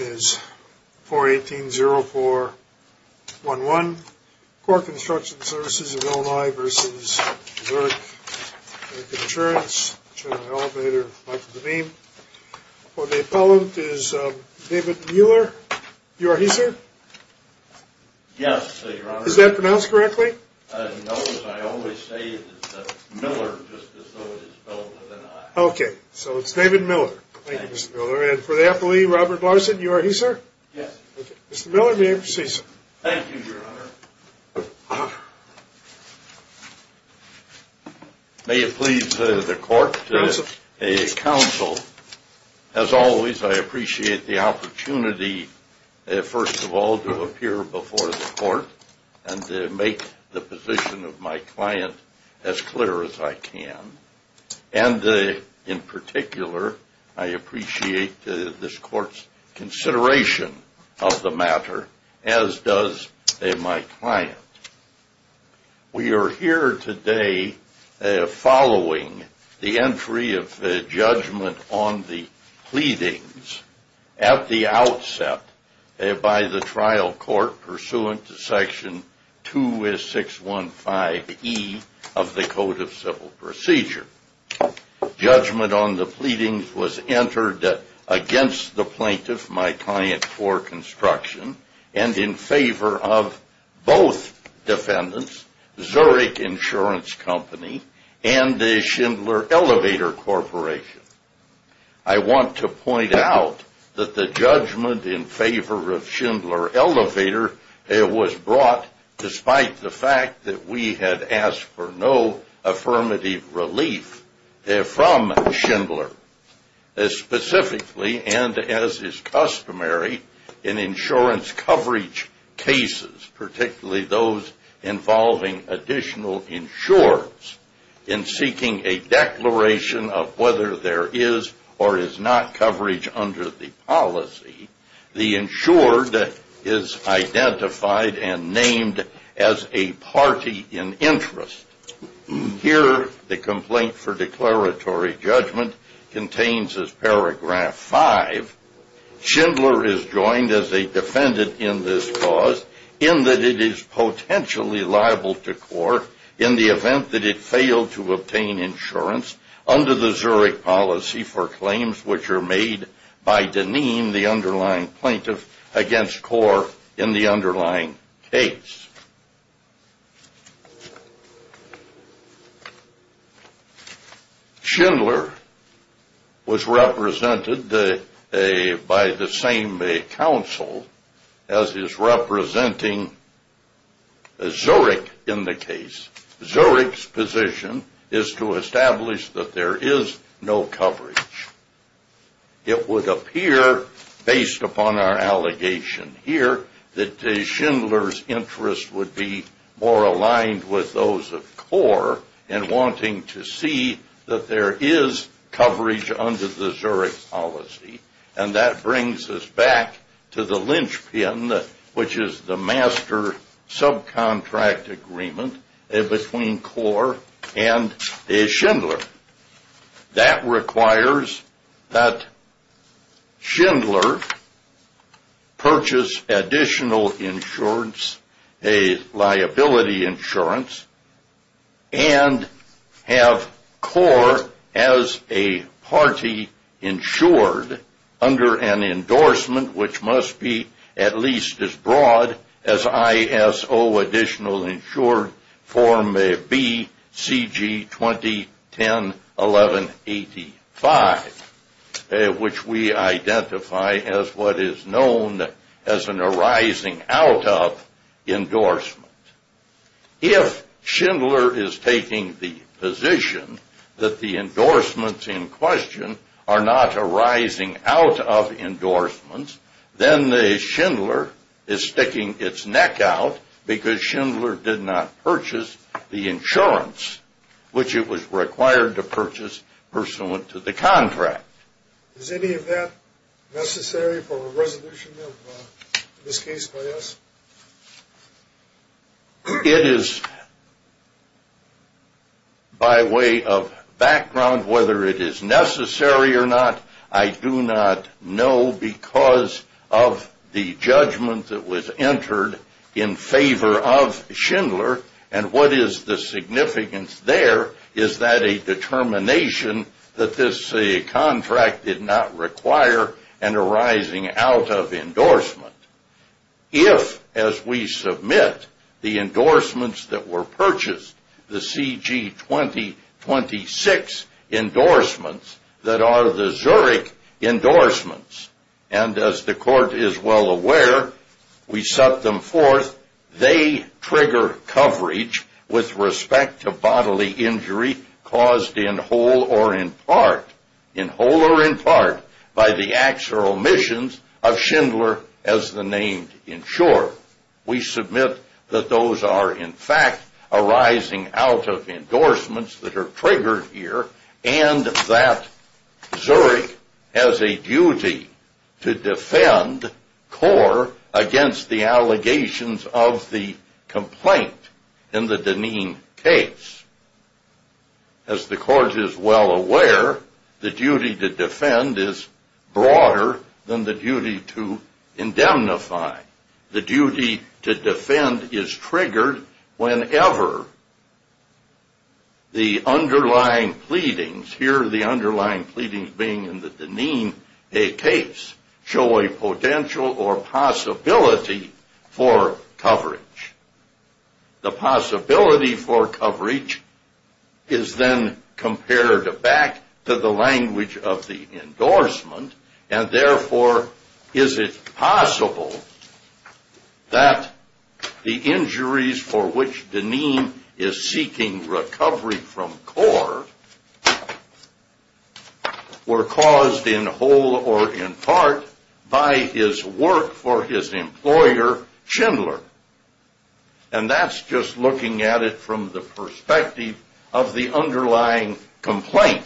is 418-0411, Corp Construction Services of Illinois v. Zurich American Insurance, General Elevator, Life of the Beam. For the appellant is David Miller. You are he, sir? Yes, Your Honor. Is that pronounced correctly? No, but I always say it's Miller, just as though it is spelled with an I. Okay, so it's David Miller. Thank you, Mr. Miller. For the appellee, Robert Larson, you are he, sir? Yes. Mr. Miller, may I proceed, sir? Thank you, Your Honor. May it please the court, counsel, as always, I appreciate the opportunity, first of all, to appear before the court and to make the position of my client as clear as I can. And in particular, I appreciate this court's consideration of the matter, as does my client. We are here today following the entry of judgment on the pleadings at the outset by the trial court pursuant to Section 2615E of the Code of Civil Procedure. Judgment on the pleadings was entered against the plaintiff, my client, for construction, and in favor of both defendants, Zurich Insurance Company and the Schindler Elevator Corporation. I want to point out that the judgment in favor of Schindler Elevator was brought, despite the fact that we had asked for no affirmative relief from Schindler. Specifically, and as is customary in insurance coverage cases, particularly those involving additional insurers, in seeking a declaration of whether there is or is not coverage under the policy, the insured is identified and named as a party in interest. Here, the complaint for declaratory judgment contains, as paragraph 5, Schindler is joined as a defendant in this cause in that it is potentially liable to court in the event that it failed to obtain insurance under the Zurich policy for claims which are made by Deneen, the underlying plaintiff, against Kaur in the underlying case. Schindler was represented by the same counsel as is representing Zurich in the case. Zurich's position is to establish that there is no coverage. It would appear, based upon our allegation here, that Schindler's interest would be more aligned with those of Kaur in wanting to see that there is coverage under the Zurich policy. And that brings us back to the linchpin, which is the master subcontract agreement between Kaur and Schindler. That requires that Schindler purchase additional insurance, a liability insurance, and have Kaur as a party insured under an endorsement which must be at least as broad as ISO additional insured form BCG 2010-1185, which we identify as what is known as an arising out of endorsement. If Schindler is taking the position that the endorsements in question are not arising out of endorsements, then Schindler is sticking its neck out because Schindler did not purchase the insurance which it was required to purchase pursuant to the contract. Is any of that necessary for a resolution of this case by us? It is by way of background whether it is necessary or not. I do not know because of the judgment that was entered in favor of Schindler. And what is the significance there? Is that a determination that this contract did not require an arising out of endorsement? If, as we submit, the endorsements that were purchased, the CG 2026 endorsements, that are the Zurich endorsements, and as the court is well aware, we set them forth, they trigger coverage with respect to bodily injury caused in whole or in part, by the actual omissions of Schindler as the named insurer. We submit that those are, in fact, arising out of endorsements that are triggered here and that Zurich has a duty to defend CORE against the allegations of the complaint in the Deneen case. As the court is well aware, the duty to defend is broader than the duty to indemnify. The duty to defend is triggered whenever the underlying pleadings, here the underlying pleadings being in the Deneen case, show a potential or possibility for coverage. The possibility for coverage is then compared back to the language of the endorsement, and therefore is it possible that the injuries for which Deneen is seeking recovery from CORE were caused in whole or in part by his work for his employer, Schindler. And that's just looking at it from the perspective of the underlying complaint.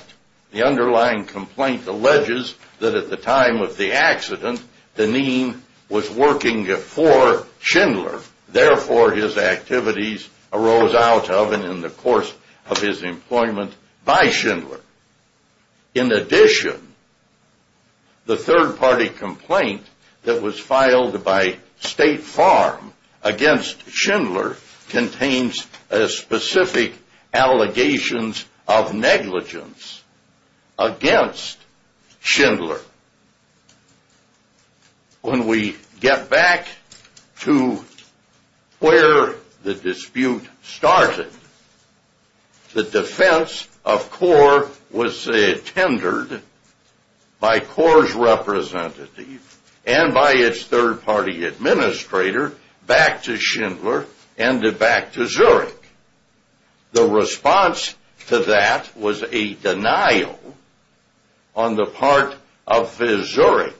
The underlying complaint alleges that at the time of the accident, Deneen was working for Schindler. Therefore, his activities arose out of and in the course of his employment by Schindler. In addition, the third-party complaint that was filed by State Farm against Schindler contains specific allegations of negligence against Schindler. When we get back to where the dispute started, the defense of CORE was tendered by CORE's representative and by its third-party administrator back to Schindler and back to Zurich. The response to that was a denial on the part of Zurich,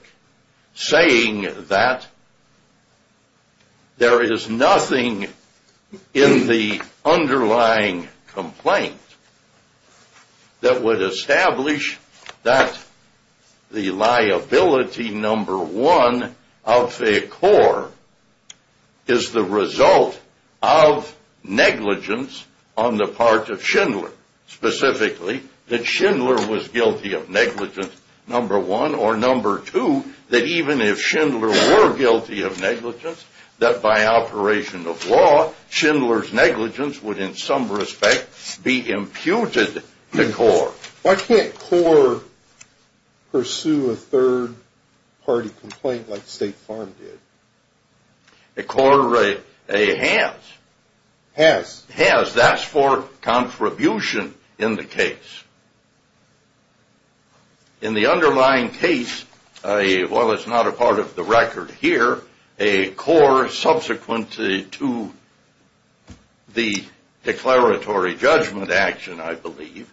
saying that there is nothing in the underlying complaint that would establish that the liability number one of CORE is the result of negligence on the part of Schindler. Specifically, that Schindler was guilty of negligence number one, or number two, that even if Schindler were guilty of negligence, that by operation of law, Schindler's negligence would in some respect be imputed to CORE. Why can't CORE pursue a third-party complaint like State Farm did? CORE has. Has. Has. That's for contribution in the case. In the underlying case, while it's not a part of the record here, a CORE subsequent to the declaratory judgment action, I believe,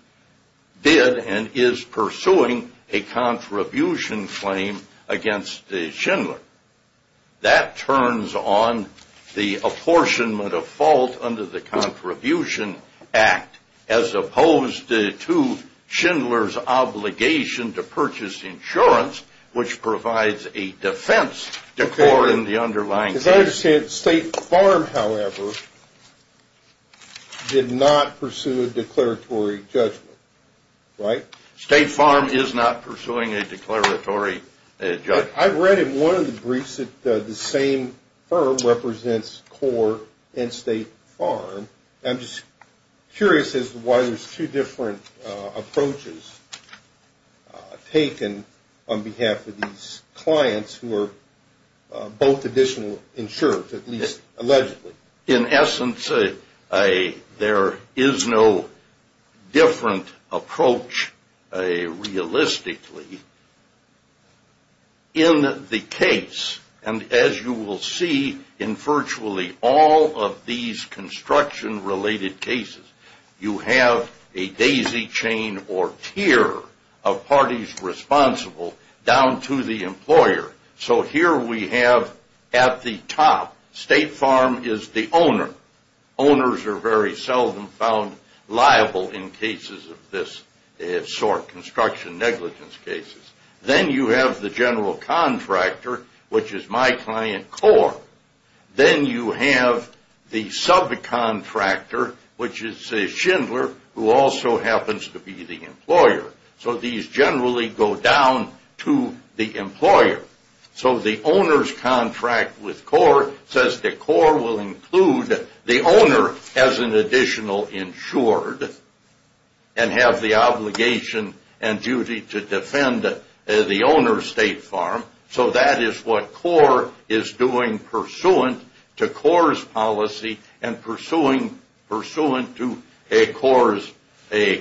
did and is pursuing a contribution claim against Schindler. That turns on the apportionment of fault under the Contribution Act, as opposed to Schindler's obligation to purchase insurance, which provides a defense to CORE in the underlying case. As I understand, State Farm, however, did not pursue a declaratory judgment, right? State Farm is not pursuing a declaratory judgment. I read in one of the briefs that the same firm represents CORE and State Farm. I'm just curious as to why there's two different approaches taken on behalf of these clients who are both additional insurers, at least allegedly. In essence, there is no different approach realistically in the case. And as you will see in virtually all of these construction-related cases, you have a daisy chain or tier of parties responsible down to the employer. So here we have at the top, State Farm is the owner. Owners are very seldom found liable in cases of this sort, construction negligence cases. Then you have the general contractor, which is my client, CORE. Then you have the subcontractor, which is Schindler, who also happens to be the employer. So these generally go down to the employer. So the owner's contract with CORE says that CORE will include the owner as an additional insured and have the obligation and duty to defend the owner, State Farm. So that is what CORE is doing pursuant to CORE's policy and pursuant to CORE's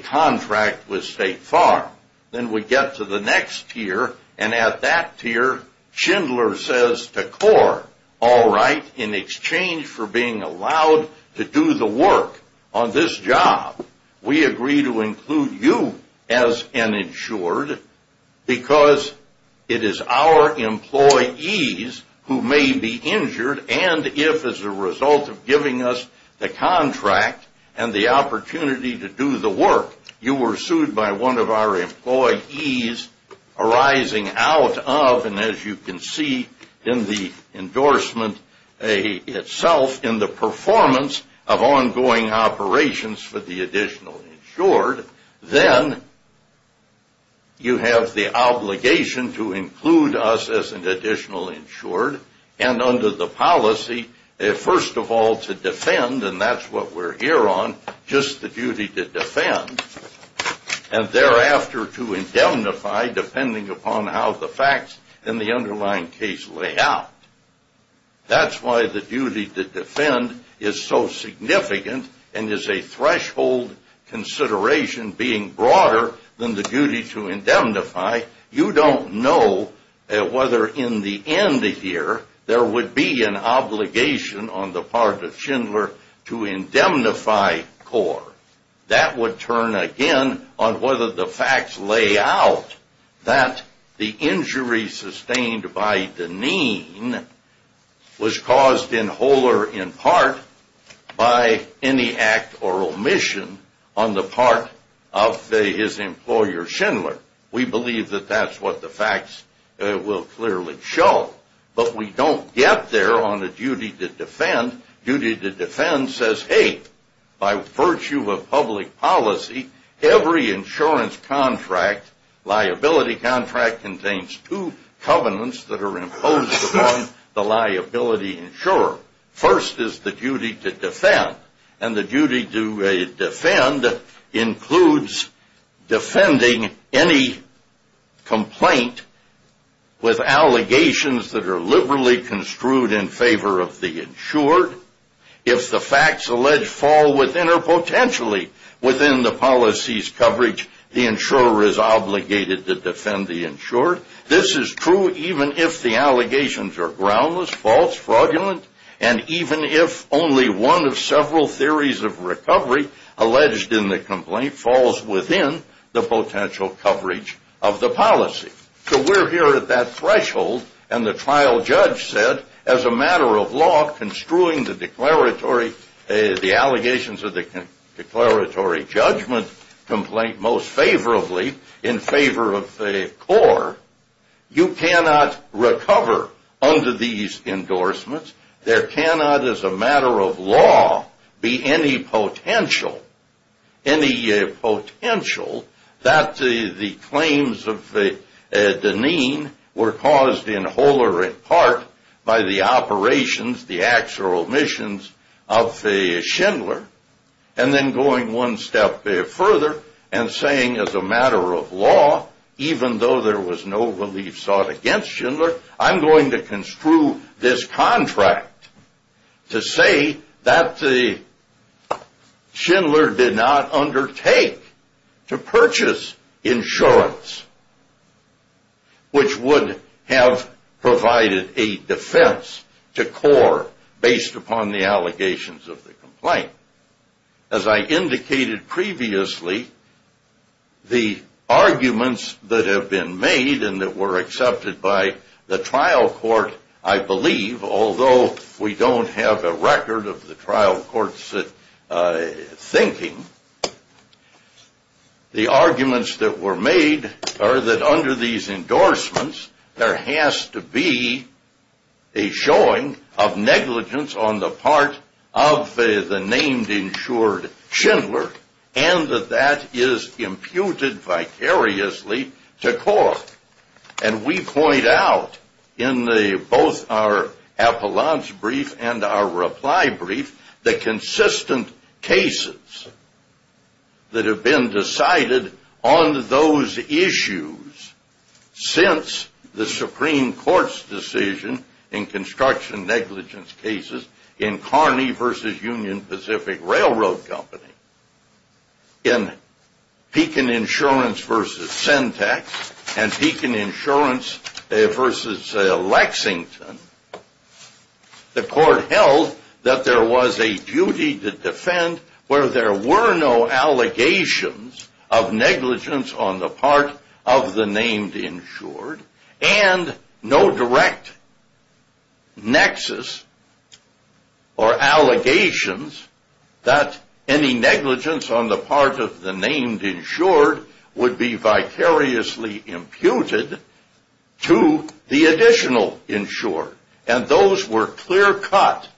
contract with State Farm. Then we get to the next tier, and at that tier, Schindler says to CORE, All right, in exchange for being allowed to do the work on this job, we agree to include you as an insured because it is our employees who may be injured, and if as a result of giving us the contract and the opportunity to do the work, you were sued by one of our employees arising out of, and as you can see in the endorsement itself, in the performance of ongoing operations for the additional insured, then you have the obligation to include us as an additional insured, and under the policy, first of all, to defend, and that's what we're here on, just the duty to defend, and thereafter to indemnify, depending upon how the facts in the underlying case lay out. That's why the duty to defend is so significant and is a threshold consideration being broader than the duty to indemnify. You don't know whether in the end here there would be an obligation on the part of Schindler to indemnify CORE. That would turn again on whether the facts lay out that the injury sustained by Deneen was caused in whole or in part by any act or omission on the part of his employer, Schindler. We believe that that's what the facts will clearly show, but we don't get there on the duty to defend. Duty to defend says, hey, by virtue of public policy, every insurance contract, liability contract, contains two covenants that are imposed upon the liability insurer. First is the duty to defend, and the duty to defend includes defending any complaint with allegations that are liberally construed in favor of the insured. If the facts alleged fall within or potentially within the policy's coverage, the insurer is obligated to defend the insured. This is true even if the allegations are groundless, false, fraudulent, and even if only one of several theories of recovery alleged in the complaint falls within the potential coverage of the policy. So we're here at that threshold, and the trial judge said, as a matter of law, construing the declaratory, the allegations of the declaratory judgment complaint most favorably in favor of CORE, you cannot recover under these endorsements. There cannot, as a matter of law, be any potential that the claims of Deneen were caused in whole or in part by the operations, the acts or omissions of Schindler. And then going one step further and saying, as a matter of law, even though there was no relief sought against Schindler, I'm going to construe this contract to say that Schindler did not undertake to purchase insurance, which would have provided a defense to CORE based upon the allegations of the complaint. As I indicated previously, the arguments that have been made and that were accepted by the trial court, I believe, although we don't have a record of the trial court's thinking, the arguments that were made are that under these endorsements, there has to be a showing of negligence on the part of the named insured Schindler, and that that is imputed vicariously to CORE. And we point out in both our appellant's brief and our reply brief the consistent cases that have been decided on those issues since the Supreme Court's decision in construction negligence cases in Kearney v. Union Pacific Railroad Company, in Pekin Insurance v. Sentex, and Pekin Insurance v. Lexington, the court held that there was a duty to defend where there were no allegations of negligence on the part of the named insured, and no direct nexus or allegations that any negligence on the part of the named insured would be vicariously imputed to the additional insured. And those were clear-cut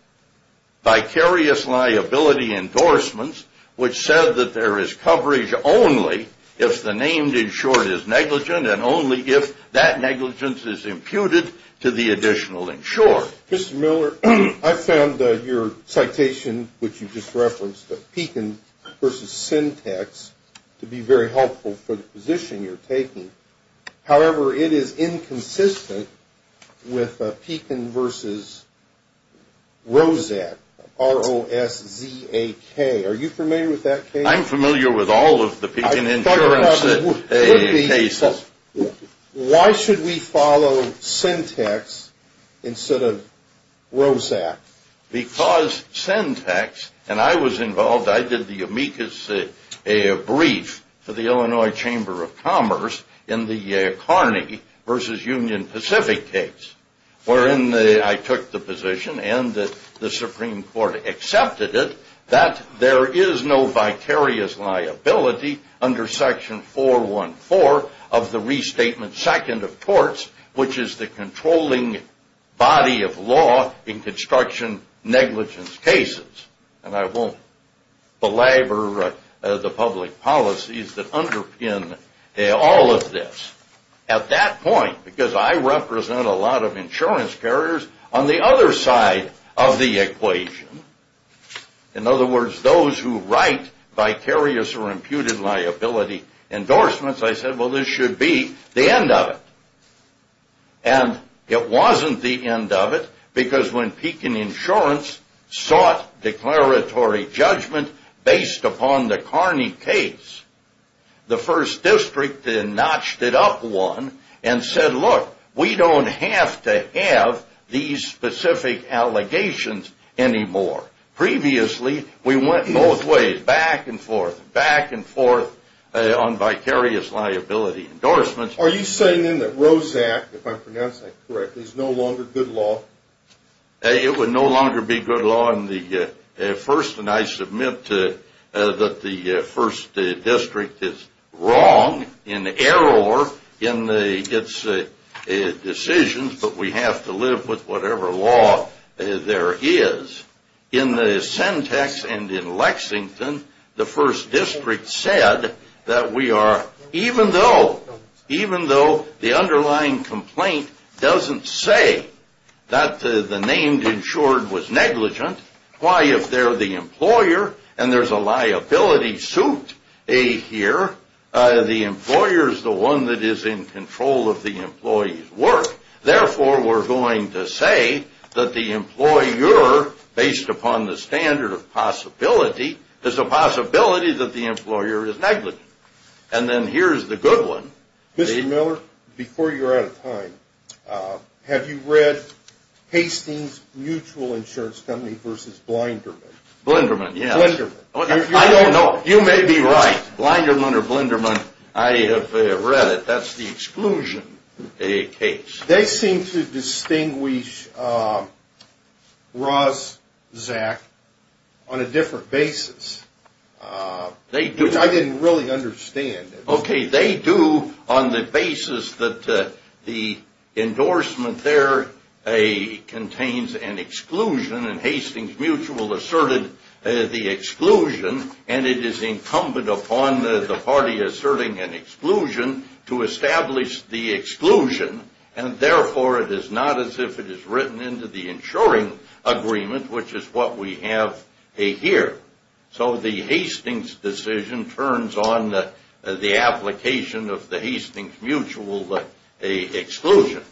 vicarious liability endorsements which said that there is coverage only if the named insured is negligent and only if that negligence is imputed to the additional insured. Mr. Miller, I found your citation, which you just referenced, Pekin v. Sentex, to be very helpful for the position you're taking. However, it is inconsistent with Pekin v. Roszak, R-O-S-Z-A-K. Are you familiar with that case? I'm familiar with all of the Pekin Insurance cases. Why should we follow Sentex instead of Roszak? Because Sentex, and I was involved, I did the amicus brief for the Illinois Chamber of Commerce in the Kearney v. Union Pacific case, wherein I took the position and the Supreme Court accepted it, that there is no vicarious liability under section 414 of the Restatement Second of Torts, which is the controlling body of law in construction negligence cases. And I won't belabor the public policies that underpin all of this. At that point, because I represent a lot of insurance carriers on the other side of the equation, in other words, those who write vicarious or imputed liability endorsements, I said, well, this should be the end of it. And it wasn't the end of it, because when Pekin Insurance sought declaratory judgment based upon the Kearney case, the first district then notched it up one and said, look, we don't have to have these specific allegations anymore. Previously, we went both ways, back and forth, back and forth on vicarious liability endorsements. Are you saying then that Roszak, if I'm pronouncing that correctly, is no longer good law? It would no longer be good law in the first, and I submit that the first district is wrong in error in its decisions, but we have to live with whatever law there is. In the Sentex and in Lexington, the first district said that we are, even though the underlying complaint doesn't say that the named insured was negligent, why, if they're the employer and there's a liability suit here, the employer is the one that is in control of the employee's work. Therefore, we're going to say that the employer, based upon the standard of possibility, is a possibility that the employer is negligent. And then here's the good one. Mr. Miller, before you're out of time, have you read Hastings Mutual Insurance Company v. Blinderman? Blinderman, yes. Blinderman. I don't know. You may be right. Blinderman or Blinderman, I have read it. That's the exclusion case. They seem to distinguish Roszak on a different basis. They do. Which I didn't really understand. Okay, they do on the basis that the endorsement there contains an exclusion, and Hastings Mutual asserted the exclusion, and it is incumbent upon the party asserting an exclusion to establish the exclusion, and therefore it is not as if it is written into the insuring agreement, which is what we have here. So the Hastings decision turns on the application of the Hastings Mutual exclusion.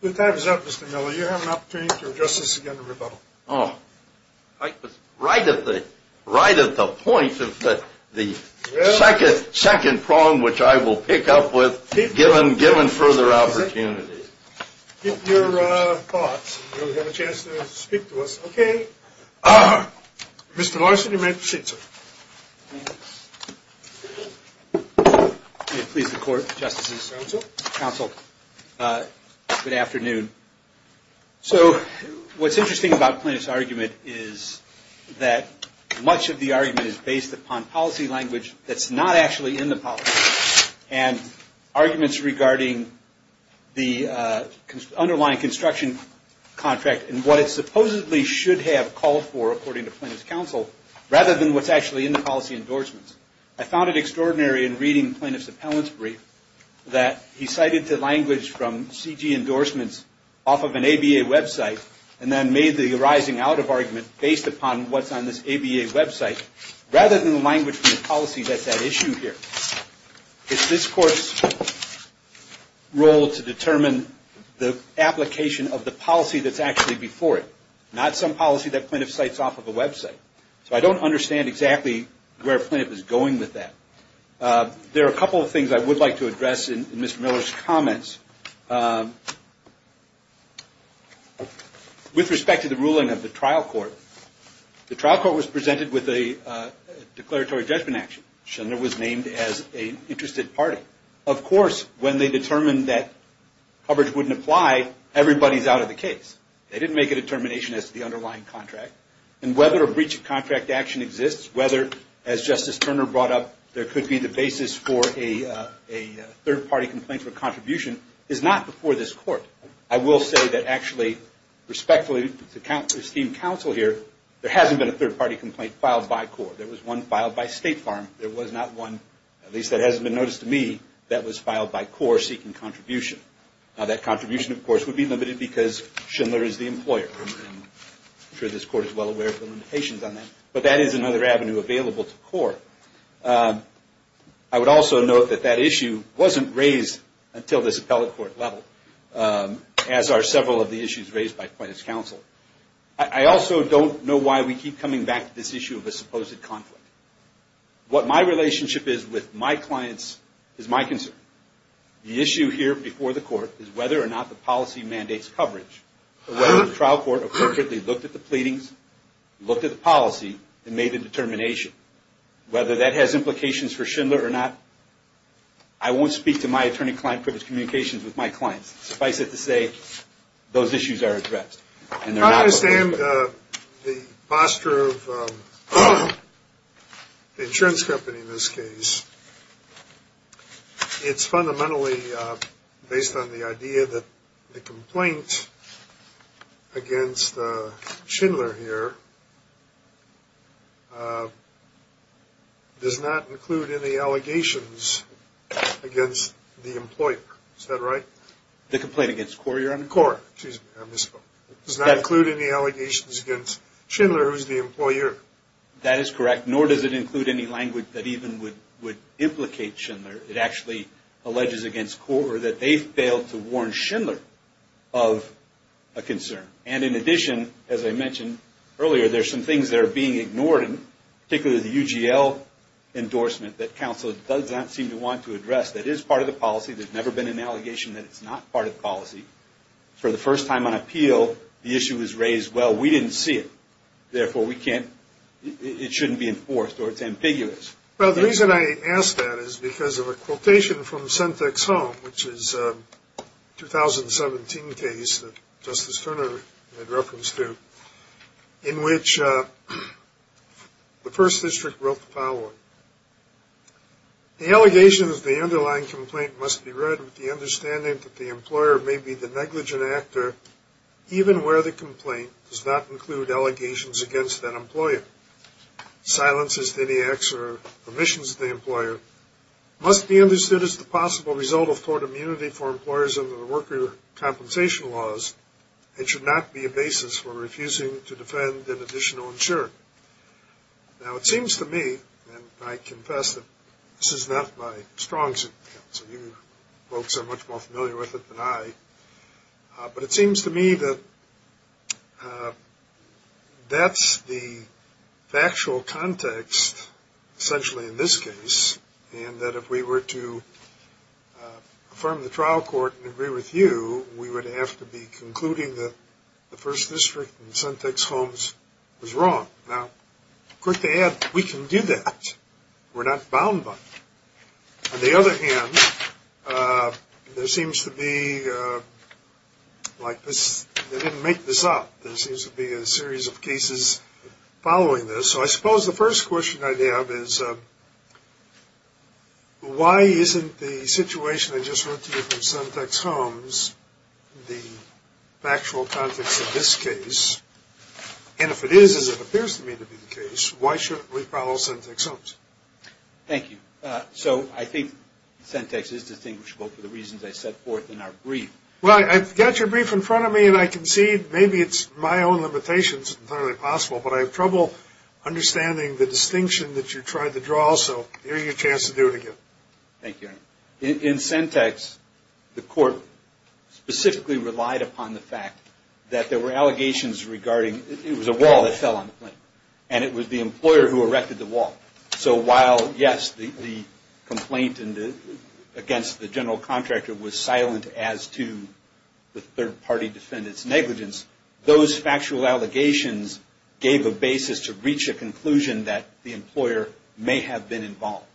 Your time is up, Mr. Miller. You have an opportunity to address this again in rebuttal. I was right at the point of the second prong, which I will pick up with, given further opportunity. Keep your thoughts. You'll have a chance to speak to us. Okay. Mr. Larson, you may proceed, sir. May it please the Court, Justices. Counsel. Counsel, good afternoon. So what's interesting about Plaintiff's argument is that much of the argument is based upon policy language that's not actually in the policy, and arguments regarding the underlying construction contract and what it supposedly should have called for, according to Plaintiff's counsel, rather than what's actually in the policy endorsements. I found it extraordinary in reading Plaintiff's appellant's brief that he cited the language from CG endorsements off of an ABA website and then made the arising out of argument based upon what's on this ABA website, rather than the language from the policy that's at issue here. It's this Court's role to determine the application of the policy that's actually before it, not some policy that Plaintiff cites off of a website. So I don't understand exactly where Plaintiff is going with that. There are a couple of things I would like to address in Mr. Miller's comments. With respect to the ruling of the trial court, the trial court was presented with a declaratory judgment action. Schindler was named as an interested party. Of course, when they determined that coverage wouldn't apply, everybody's out of the case. They didn't make a determination as to the underlying contract. And whether a breach of contract action exists, whether, as Justice Turner brought up, there could be the basis for a third-party complaint for contribution, is not before this Court. I will say that actually, respectfully, to esteem counsel here, there hasn't been a third-party complaint filed by CORE. There was one filed by State Farm. There was not one, at least that hasn't been noticed to me, that was filed by CORE seeking contribution. That contribution, of course, would be limited because Schindler is the employer. I'm sure this Court is well aware of the limitations on that. But that is another avenue available to CORE. I would also note that that issue wasn't raised until this appellate court level, as are several of the issues raised by plaintiff's counsel. I also don't know why we keep coming back to this issue of a supposed conflict. What my relationship is with my clients is my concern. The issue here before the Court is whether or not the policy mandates coverage, whether the trial court appropriately looked at the pleadings, looked at the policy, and made a determination. Whether that has implications for Schindler or not, I won't speak to my attorney-client-privileged communications with my clients. Suffice it to say, those issues are addressed. I understand the posture of the insurance company in this case. It's fundamentally based on the idea that the complaint against Schindler here does not include any allegations against the employer. Is that right? The complaint against CORE. You're on CORE. Excuse me, I misspoke. It does not include any allegations against Schindler, who is the employer. That is correct, nor does it include any language that even would implicate Schindler. It actually alleges against CORE that they failed to warn Schindler of a concern. And in addition, as I mentioned earlier, there are some things that are being ignored, particularly the UGL endorsement that counsel does not seem to want to address. That is part of the policy. There's never been an allegation that it's not part of the policy. For the first time on appeal, the issue is raised, well, we didn't see it. Therefore, it shouldn't be enforced, or it's ambiguous. Well, the reason I ask that is because of a quotation from Sentek's home, which is a 2017 case that Justice Turner had reference to, in which the first district wrote the following. The allegations of the underlying complaint must be read with the understanding that the employer may be the negligent actor, even where the complaint does not include allegations against that employer. Silences to any acts or omissions of the employer must be understood as the possible result of tort immunity for employers under the worker compensation laws and should not be a basis for refusing to defend an additional insurer. Now, it seems to me, and I confess that this is not my strong suit, so you folks are much more familiar with it than I, but it seems to me that that's the factual context, essentially in this case, and that if we were to affirm the trial court and agree with you, we would have to be concluding that the first district in Sentek's homes was wrong. Now, quick to add, we can do that. We're not bound by it. On the other hand, there seems to be, like, they didn't make this up. There seems to be a series of cases following this. So I suppose the first question I have is why isn't the situation I just wrote to you from Sentek's homes the factual context of this case? And if it is, as it appears to me to be the case, why shouldn't we follow Sentek's homes? Thank you. So I think Sentek's is distinguishable for the reasons I set forth in our brief. Well, I've got your brief in front of me, and I can see maybe it's my own limitations, and it's entirely possible, but I have trouble understanding the distinction that you tried to draw. So here's your chance to do it again. Thank you. In Sentek's, the court specifically relied upon the fact that there were allegations regarding it was a wall that fell on the plaintiff, and it was the employer who erected the wall. So while, yes, the complaint against the general contractor was silent as to the third-party defendant's negligence, those factual allegations gave a basis to reach a conclusion that the employer may have been involved.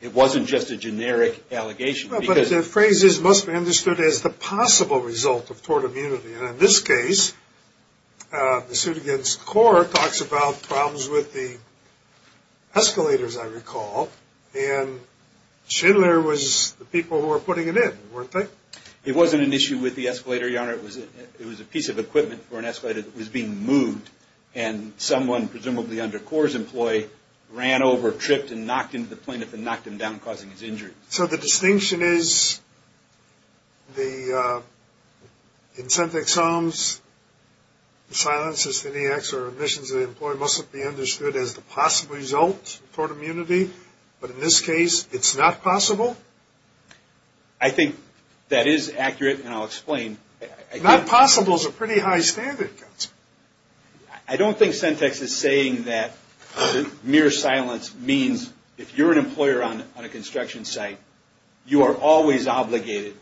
It wasn't just a generic allegation. Well, but the phrase is, must be understood as the possible result of tort immunity. And in this case, the suit against the court talks about problems with the escalators, I recall, and Schindler was the people who were putting it in, weren't they? It was a piece of equipment for an escalator that was being moved, and someone, presumably under Cora's employee, ran over, tripped, and knocked into the plaintiff and knocked him down, causing his injury. So the distinction is, in Sentek's homes, silence as to any acts or omissions of the employee mustn't be understood as the possible result of tort immunity, but in this case, it's not possible? I think that is accurate, and I'll explain. Not possible is a pretty high standard. I don't think Sentek's is saying that mere silence means, if you're an employer on a construction site, you are always obligated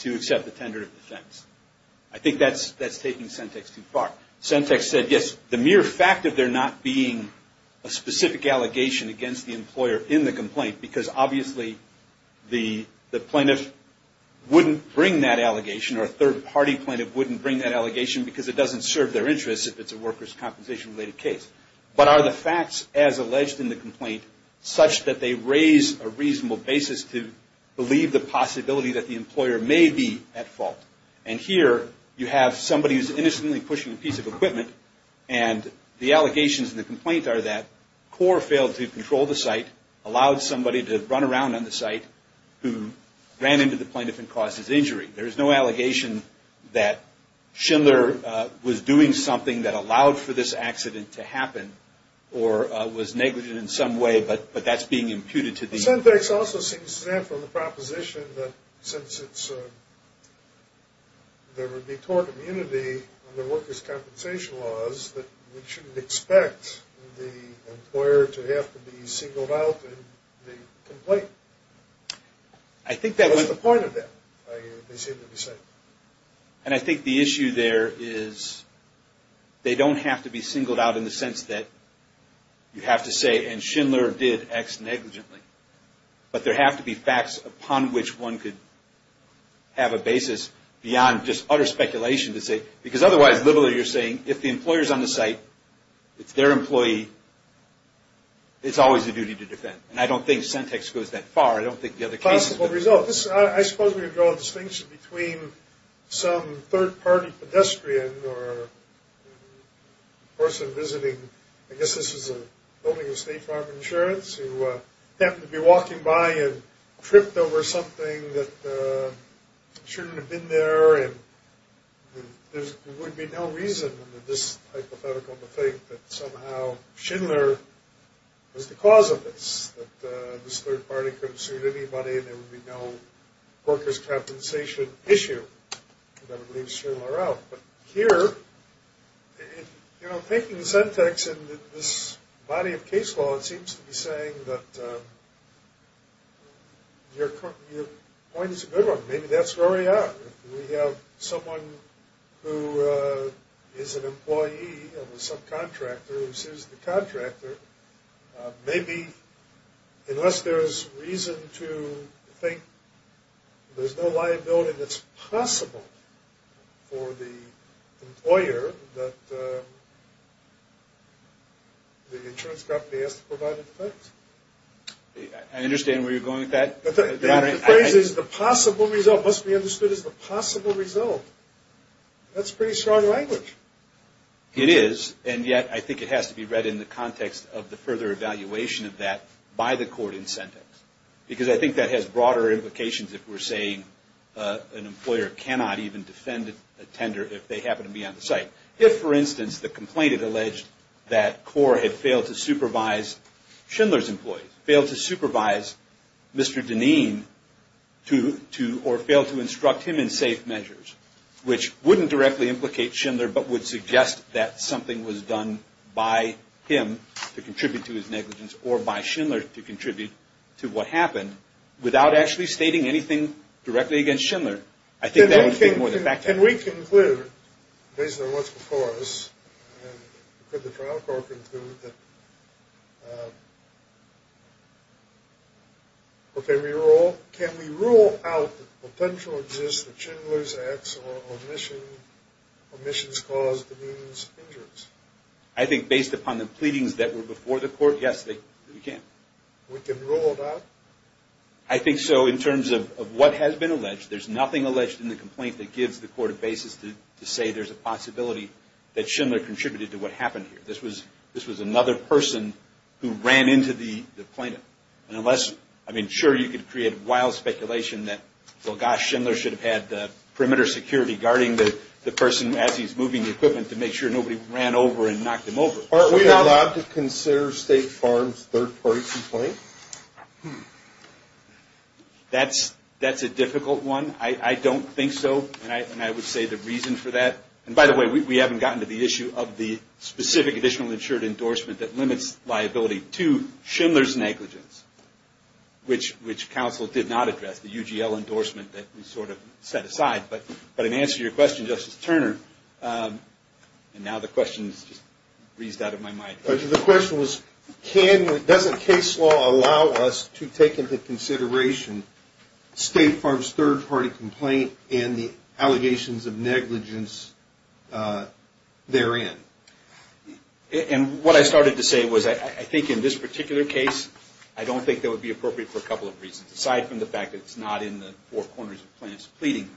to accept the tender of defense. I think that's taking Sentek's too far. Sentek's said, yes, the mere fact that there not being a specific allegation against the employer in the complaint, because obviously the plaintiff wouldn't bring that allegation, or a third-party plaintiff wouldn't bring that allegation, because it doesn't serve their interests if it's a workers' compensation-related case. But are the facts as alleged in the complaint such that they raise a reasonable basis to believe the possibility that the employer may be at fault? And here, you have somebody who's innocently pushing a piece of equipment, and the allegations in the complaint are that Cora failed to control the site, allowed somebody to run around on the site, who ran into the plaintiff and caused his injury. There is no allegation that Schindler was doing something that allowed for this accident to happen, or was negligent in some way, but that's being imputed to the- Sentek's also seems to stand for the proposition that since there would be tort immunity under workers' compensation laws, that we shouldn't expect the employer to have to be singled out in the complaint. What's the point of that, they seem to be saying? And I think the issue there is they don't have to be singled out in the sense that you have to say, and Schindler did X negligently, but there have to be facts upon which one could have a basis beyond just utter speculation to say, because otherwise literally you're saying if the employer's on the site, it's their employee, it's always a duty to defend. And I don't think Sentek's goes that far. I don't think the other cases- Possible results. I suppose we could draw a distinction between some third-party pedestrian or person visiting, I guess this is a building of State Farm Insurance, who happened to be walking by and tripped over something that shouldn't have been there, and there would be no reason under this hypothetical to think that somehow Schindler was the cause of this, that this third-party could have sued anybody and there would be no workers' compensation issue that would leave Schindler out. But here, you know, thinking Sentek's in this body of case law, it seems to be saying that your point is a good one. Maybe that's where we are. If we have someone who is an employee of a subcontractor who sues the contractor, maybe unless there's reason to think there's no liability that's possible for the employer, that the insurance company has to provide a defense. I understand where you're going with that. The phrase is the possible result must be understood as the possible result. That's pretty strong language. It is, and yet I think it has to be read in the context of the further evaluation of that by the court in Sentek, because I think that has broader implications if we're saying an employer cannot even defend a tender if they happen to be on the site. If, for instance, the complaint had alleged that CORE had failed to supervise Schindler's employees, failed to supervise Mr. Dineen, or failed to instruct him in safe measures, which wouldn't directly implicate Schindler, but would suggest that something was done by him to contribute to his negligence or by Schindler to contribute to what happened, without actually stating anything directly against Schindler. I think that would be more the fact of the matter. Can we conclude, based on what's before us, could the trial court conclude that, or can we rule out that potential exists that Schindler's acts or omissions caused Dineen's injuries? I think based upon the pleadings that were before the court, yes, we can. We can rule it out? I think so in terms of what has been alleged. There's nothing alleged in the complaint that gives the court a basis to say there's a possibility that Schindler contributed to what happened here. This was another person who ran into the plaintiff. Sure, you could create wild speculation that, well, gosh, Schindler should have had perimeter security guarding the person as he's moving the equipment to make sure nobody ran over and knocked him over. Aren't we allowed to consider State Farm's third-party complaint? That's a difficult one. I don't think so, and I would say the reason for that, and by the way, we haven't gotten to the issue of the specific additional insured endorsement that limits liability to Schindler's negligence, which counsel did not address, the UGL endorsement that we sort of set aside. But in answer to your question, Justice Turner, and now the question's just breezed out of my mind. The question was, doesn't case law allow us to take into consideration State Farm's third-party complaint and the allegations of negligence therein? And what I started to say was, I think in this particular case, I don't think that would be appropriate for a couple of reasons, aside from the fact that it's not in the four corners of the plaintiff's pleading.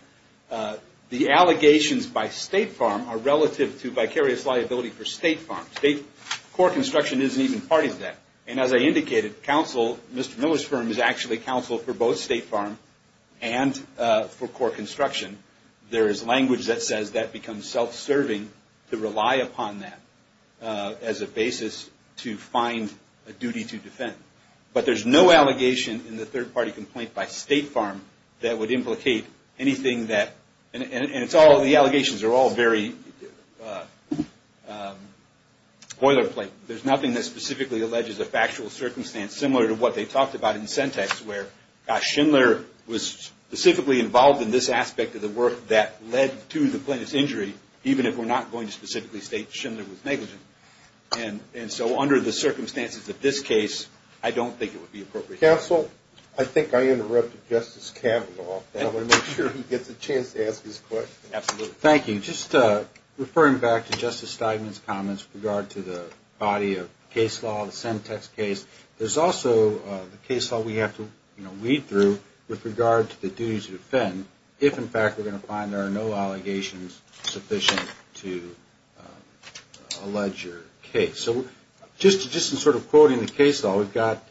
The allegations by State Farm are relative to vicarious liability for State Farm. State Core Construction isn't even part of that, and as I indicated, counsel, Mr. Miller's firm is actually counsel for both State Farm and for Core Construction. There is language that says that becomes self-serving to rely upon that as a basis to find a duty to defend. But there's no allegation in the third-party complaint by State Farm that would implicate anything that, and it's all, the allegations are all very boilerplate. There's nothing that specifically alleges a factual circumstance similar to what they talked about in Sentex, where Schindler was specifically involved in this aspect of the work that led to the plaintiff's injury, even if we're not going to specifically state Schindler was negligent. And so under the circumstances of this case, I don't think it would be appropriate. Counsel, I think I interrupted Justice Kavanaugh. I want to make sure he gets a chance to ask his question. Absolutely. Thank you. Just referring back to Justice Steigman's comments with regard to the body of case law, the Sentex case, there's also the case law we have to weed through with regard to the duty to defend, if in fact we're going to find there are no allegations sufficient to allege your case. So just in sort of quoting the case law, we've got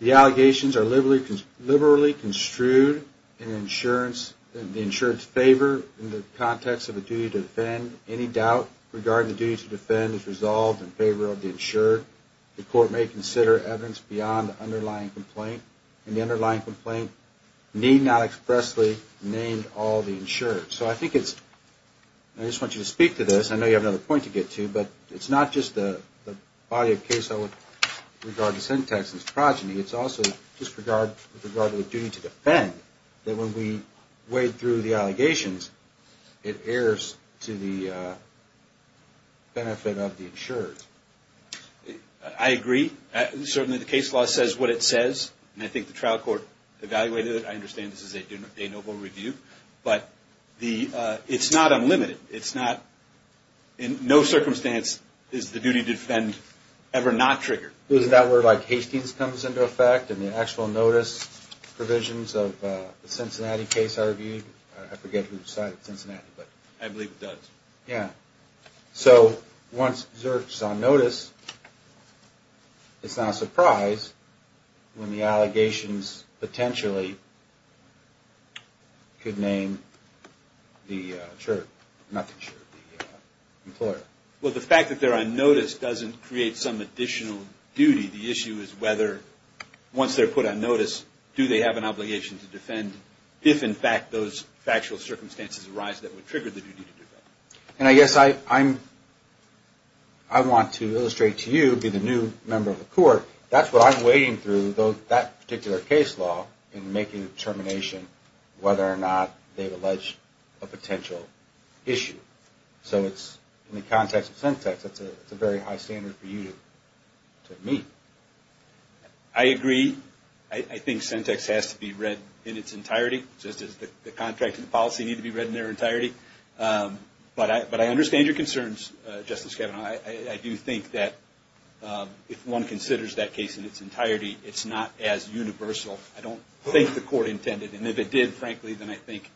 the allegations are liberally construed in the insurance favor in the context of a duty to defend. Any doubt regarding the duty to defend is resolved in favor of the insured. The court may consider evidence beyond the underlying complaint. And the underlying complaint need not expressly name all the insured. So I think it's – I just want you to speak to this. I know you have another point to get to, but it's not just the body of case law with regard to Sentex and its progeny. It's also with regard to the duty to defend that when we wade through the allegations, it errs to the benefit of the insured. I agree. Certainly the case law says what it says, and I think the trial court evaluated it. I understand this is a noble review. But it's not unlimited. It's not – in no circumstance is the duty to defend ever not triggered. Isn't that where, like, Hastings comes into effect and the actual notice provisions of the Cincinnati case are reviewed? I forget who cited Cincinnati, but – I believe it does. Yeah. So once Zerk's on notice, it's not a surprise when the allegations potentially could name the insured, not the insured, the employer. Well, the fact that they're on notice doesn't create some additional duty. The issue is whether once they're put on notice, do they have an obligation to defend if, in fact, those factual circumstances arise that would trigger the duty to defend? And I guess I'm – I want to illustrate to you, being a new member of the court, that's what I'm wading through, that particular case law, in making a determination whether or not they've alleged a potential issue. So it's – in the context of Sentex, it's a very high standard for you to meet. I agree. I think Sentex has to be read in its entirety, just as the contract and the policy need to be read in their entirety. But I understand your concerns, Justice Kavanaugh. I do think that if one considers that case in its entirety, it's not as universal. I don't think the court intended. And if it did, frankly, then I think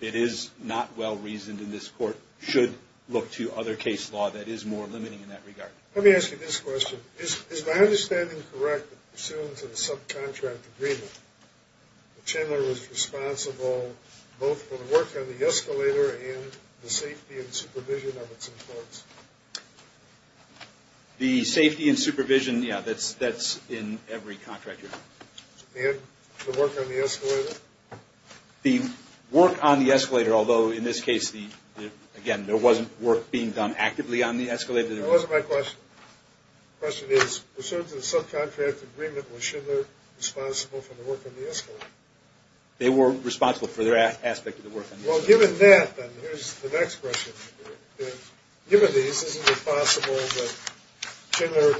it is not well-reasoned, and this court should look to other case law that is more limiting in that regard. Let me ask you this question. Is my understanding correct that pursuant to the subcontract agreement, Chandler was responsible both for the work on the escalator and the safety and supervision of its employees? The safety and supervision, yeah, that's in every contract. Thank you. And the work on the escalator? The work on the escalator, although in this case, again, there wasn't work being done actively on the escalator. That wasn't my question. The question is, pursuant to the subcontract agreement, was Chandler responsible for the work on the escalator? They were responsible for their aspect of the work on the escalator. Well, given that, then, here's the next question. Given these, isn't it possible that Chandler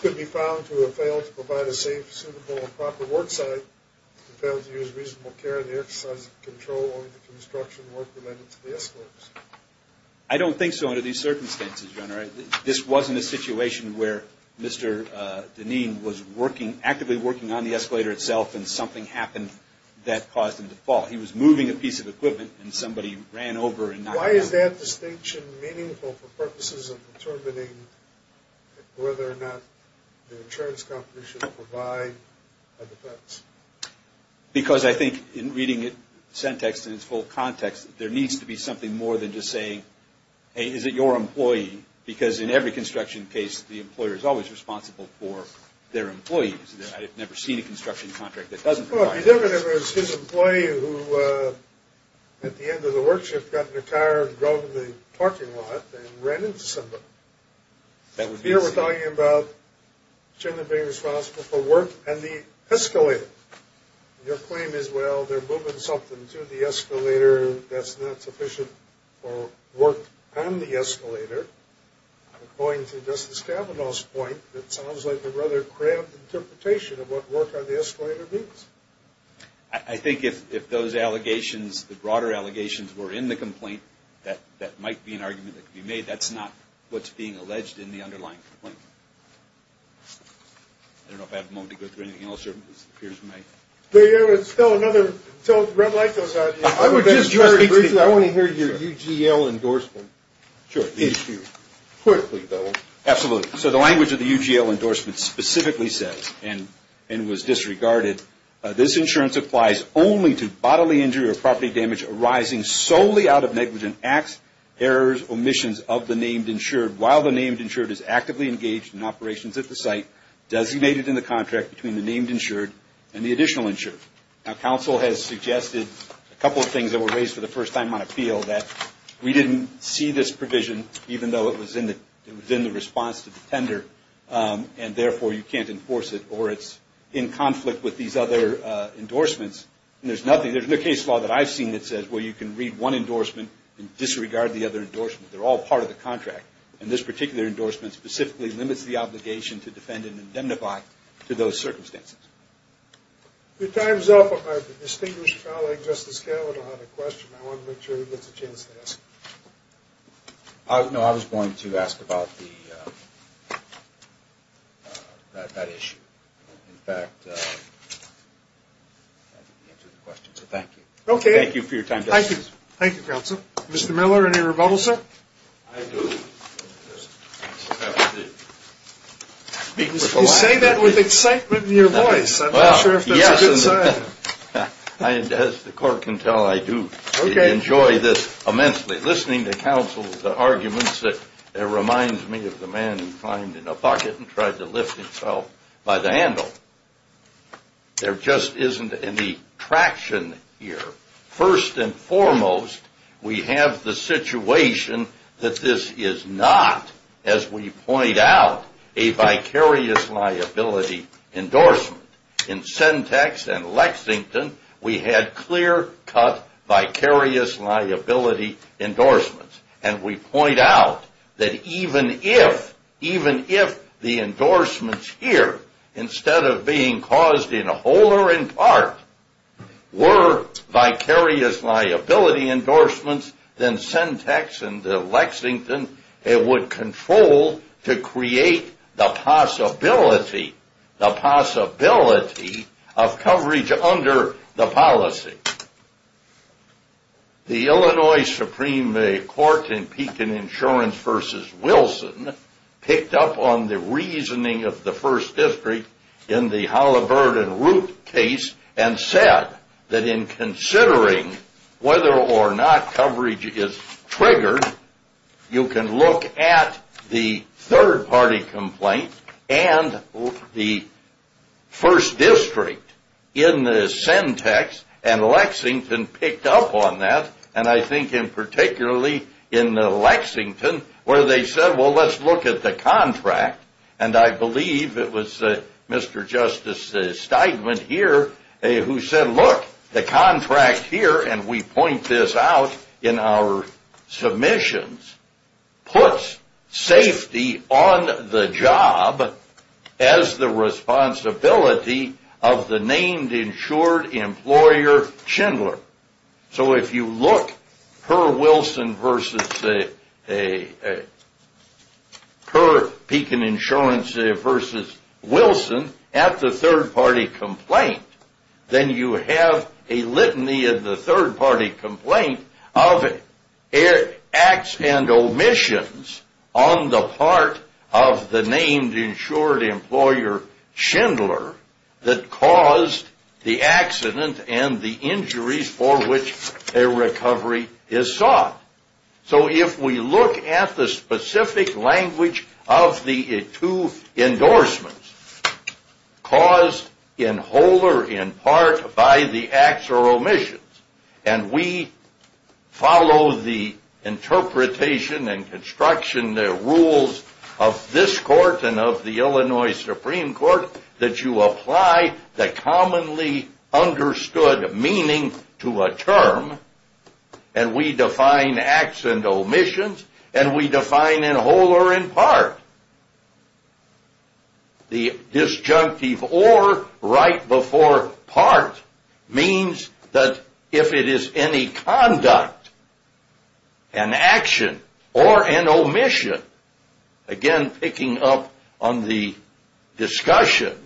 could be found to have failed to provide a safe, suitable, and proper work site, and failed to use reasonable care in the exercise of control on the construction work related to the escalators? I don't think so under these circumstances, Your Honor. This wasn't a situation where Mr. Deneen was actively working on the escalator itself, and something happened that caused him to fall. He was moving a piece of equipment, and somebody ran over and knocked it down. Why is that distinction meaningful for purposes of determining whether or not the insurance company should provide a defense? Because I think, in reading it in its full context, there needs to be something more than just saying, hey, is it your employee? Because in every construction case, the employer is always responsible for their employees. I've never seen a construction contract that doesn't require this. Well, if you don't remember, it was his employee who, at the end of the work shift, got in the car and drove to the parking lot and ran into somebody. Here we're talking about Chandler being responsible for work on the escalator. Your claim is, well, they're moving something to the escalator that's not sufficient for work on the escalator. Going to Justice Kavanaugh's point, it sounds like a rather cramped interpretation of what work on the escalator means. I think if those allegations, the broader allegations, were in the complaint, that might be an argument that could be made. That's not what's being alleged in the underlying complaint. I don't know if I have a moment to go through anything else. There's still another red light goes on. I want to hear your UGL endorsement. Sure. Quickly, Bill. Absolutely. So the language of the UGL endorsement specifically says, and was disregarded, this insurance applies only to bodily injury or property damage arising solely out of negligent acts, errors, or omissions of the named insured while the named insured is actively engaged in operations at the site designated in the contract between the named insured and the additional insured. Now, council has suggested a couple of things that were raised for the first time on appeal, that we didn't see this provision, even though it was in the response to the tender, and therefore you can't enforce it or it's in conflict with these other endorsements. And there's nothing, there's no case law that I've seen that says, well, you can read one endorsement and disregard the other endorsement. They're all part of the contract. And this particular endorsement specifically limits the obligation to defend and indemnify to those circumstances. Your time is up. My distinguished colleague, Justice Gellin, had a question. I want to make sure he gets a chance to ask it. No, I was going to ask about that issue. In fact, I didn't answer the question, so thank you. Thank you for your time, Justice. Thank you, counsel. Mr. Miller, any rebuttal, sir? I do. You say that with excitement in your voice. I'm not sure if that's a good sign. As the court can tell, I do enjoy this immensely, listening to counsel's arguments that reminds me of the man who climbed in a pocket and tried to lift himself by the handle. There just isn't any traction here. First and foremost, we have the situation that this is not, as we point out, a vicarious liability endorsement. In Sentex and Lexington, we had clear-cut vicarious liability endorsements. And we point out that even if the endorsements here, instead of being caused in whole or in part, were vicarious liability endorsements than Sentex and Lexington, it would control to create the possibility, the possibility of coverage under the policy. The Illinois Supreme Court in Pekin Insurance v. Wilson picked up on the reasoning of the First District in the Halliburton Root case and said that in considering whether or not coverage is triggered, you can look at the third-party complaint and the First District in the Sentex, and Lexington picked up on that, and I think in particularly in Lexington, where they said, well, let's look at the contract, and I believe it was Mr. Justice Steigman here who said, look, the contract here, and we point this out in our submissions, puts safety on the job as the responsibility of the named insured employer, Schindler. So if you look per Wilson v. Pekin Insurance v. Wilson at the third-party complaint, then you have a litany of the third-party complaint of acts and omissions on the part of the named insured employer, Schindler, that caused the accident and the injuries for which a recovery is sought. So if we look at the specific language of the two endorsements, caused in whole or in part by the acts or omissions, and we follow the interpretation and construction rules of this court and of the Illinois Supreme Court that you apply the commonly understood meaning to a term, and we define acts and omissions, and we define in whole or in part. The disjunctive or right before part means that if it is any conduct, an action, or an omission, again picking up on the discussion,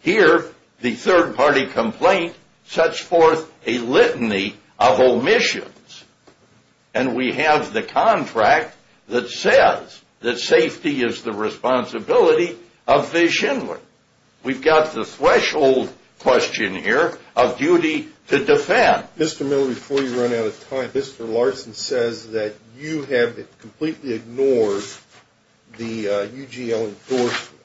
here the third-party complaint sets forth a litany of omissions, and we have the contract that says that safety is the responsibility of the Schindler. We've got the threshold question here of duty to defend. Mr. Miller, before you run out of time, Mr. Larson says that you have completely ignored the UGL endorsement.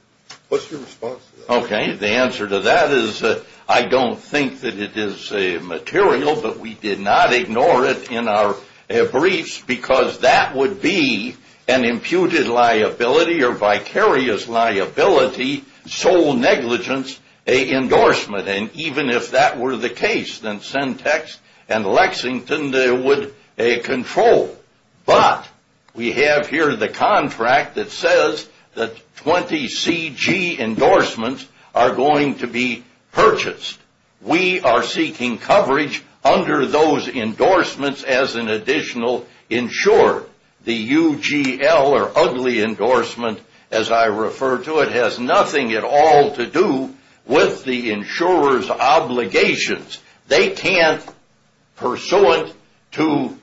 What's your response to that? Okay, the answer to that is I don't think that it is material, but we did not ignore it in our briefs because that would be an imputed liability or vicarious liability, sole negligence endorsement. And even if that were the case, then Sentex and Lexington, they would control. But we have here the contract that says that 20 CG endorsements are going to be purchased. We are seeking coverage under those endorsements as an additional insurer. The UGL or ugly endorsement, as I refer to it, has nothing at all to do with the insurer's obligations. They can't, pursuant to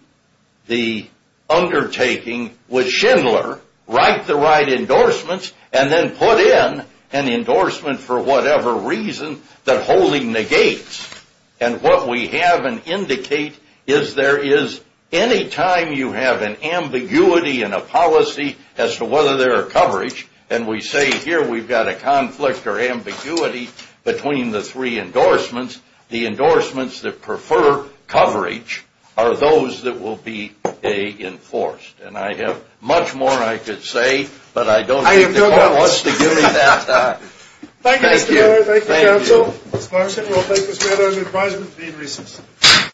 the undertaking with Schindler, write the right endorsements and then put in an endorsement for whatever reason that wholly negates. And what we have and indicate is there is any time you have an ambiguity in a policy as to whether there are coverage, and we say here we've got a conflict or ambiguity between the three endorsements, the endorsements that prefer coverage are those that will be enforced. And I have much more I could say, but I don't think the court wants to give me that time. Thank you, Mr. Miller. Thank you, counsel. This motion will take us right over to the advisory committee to be in recess.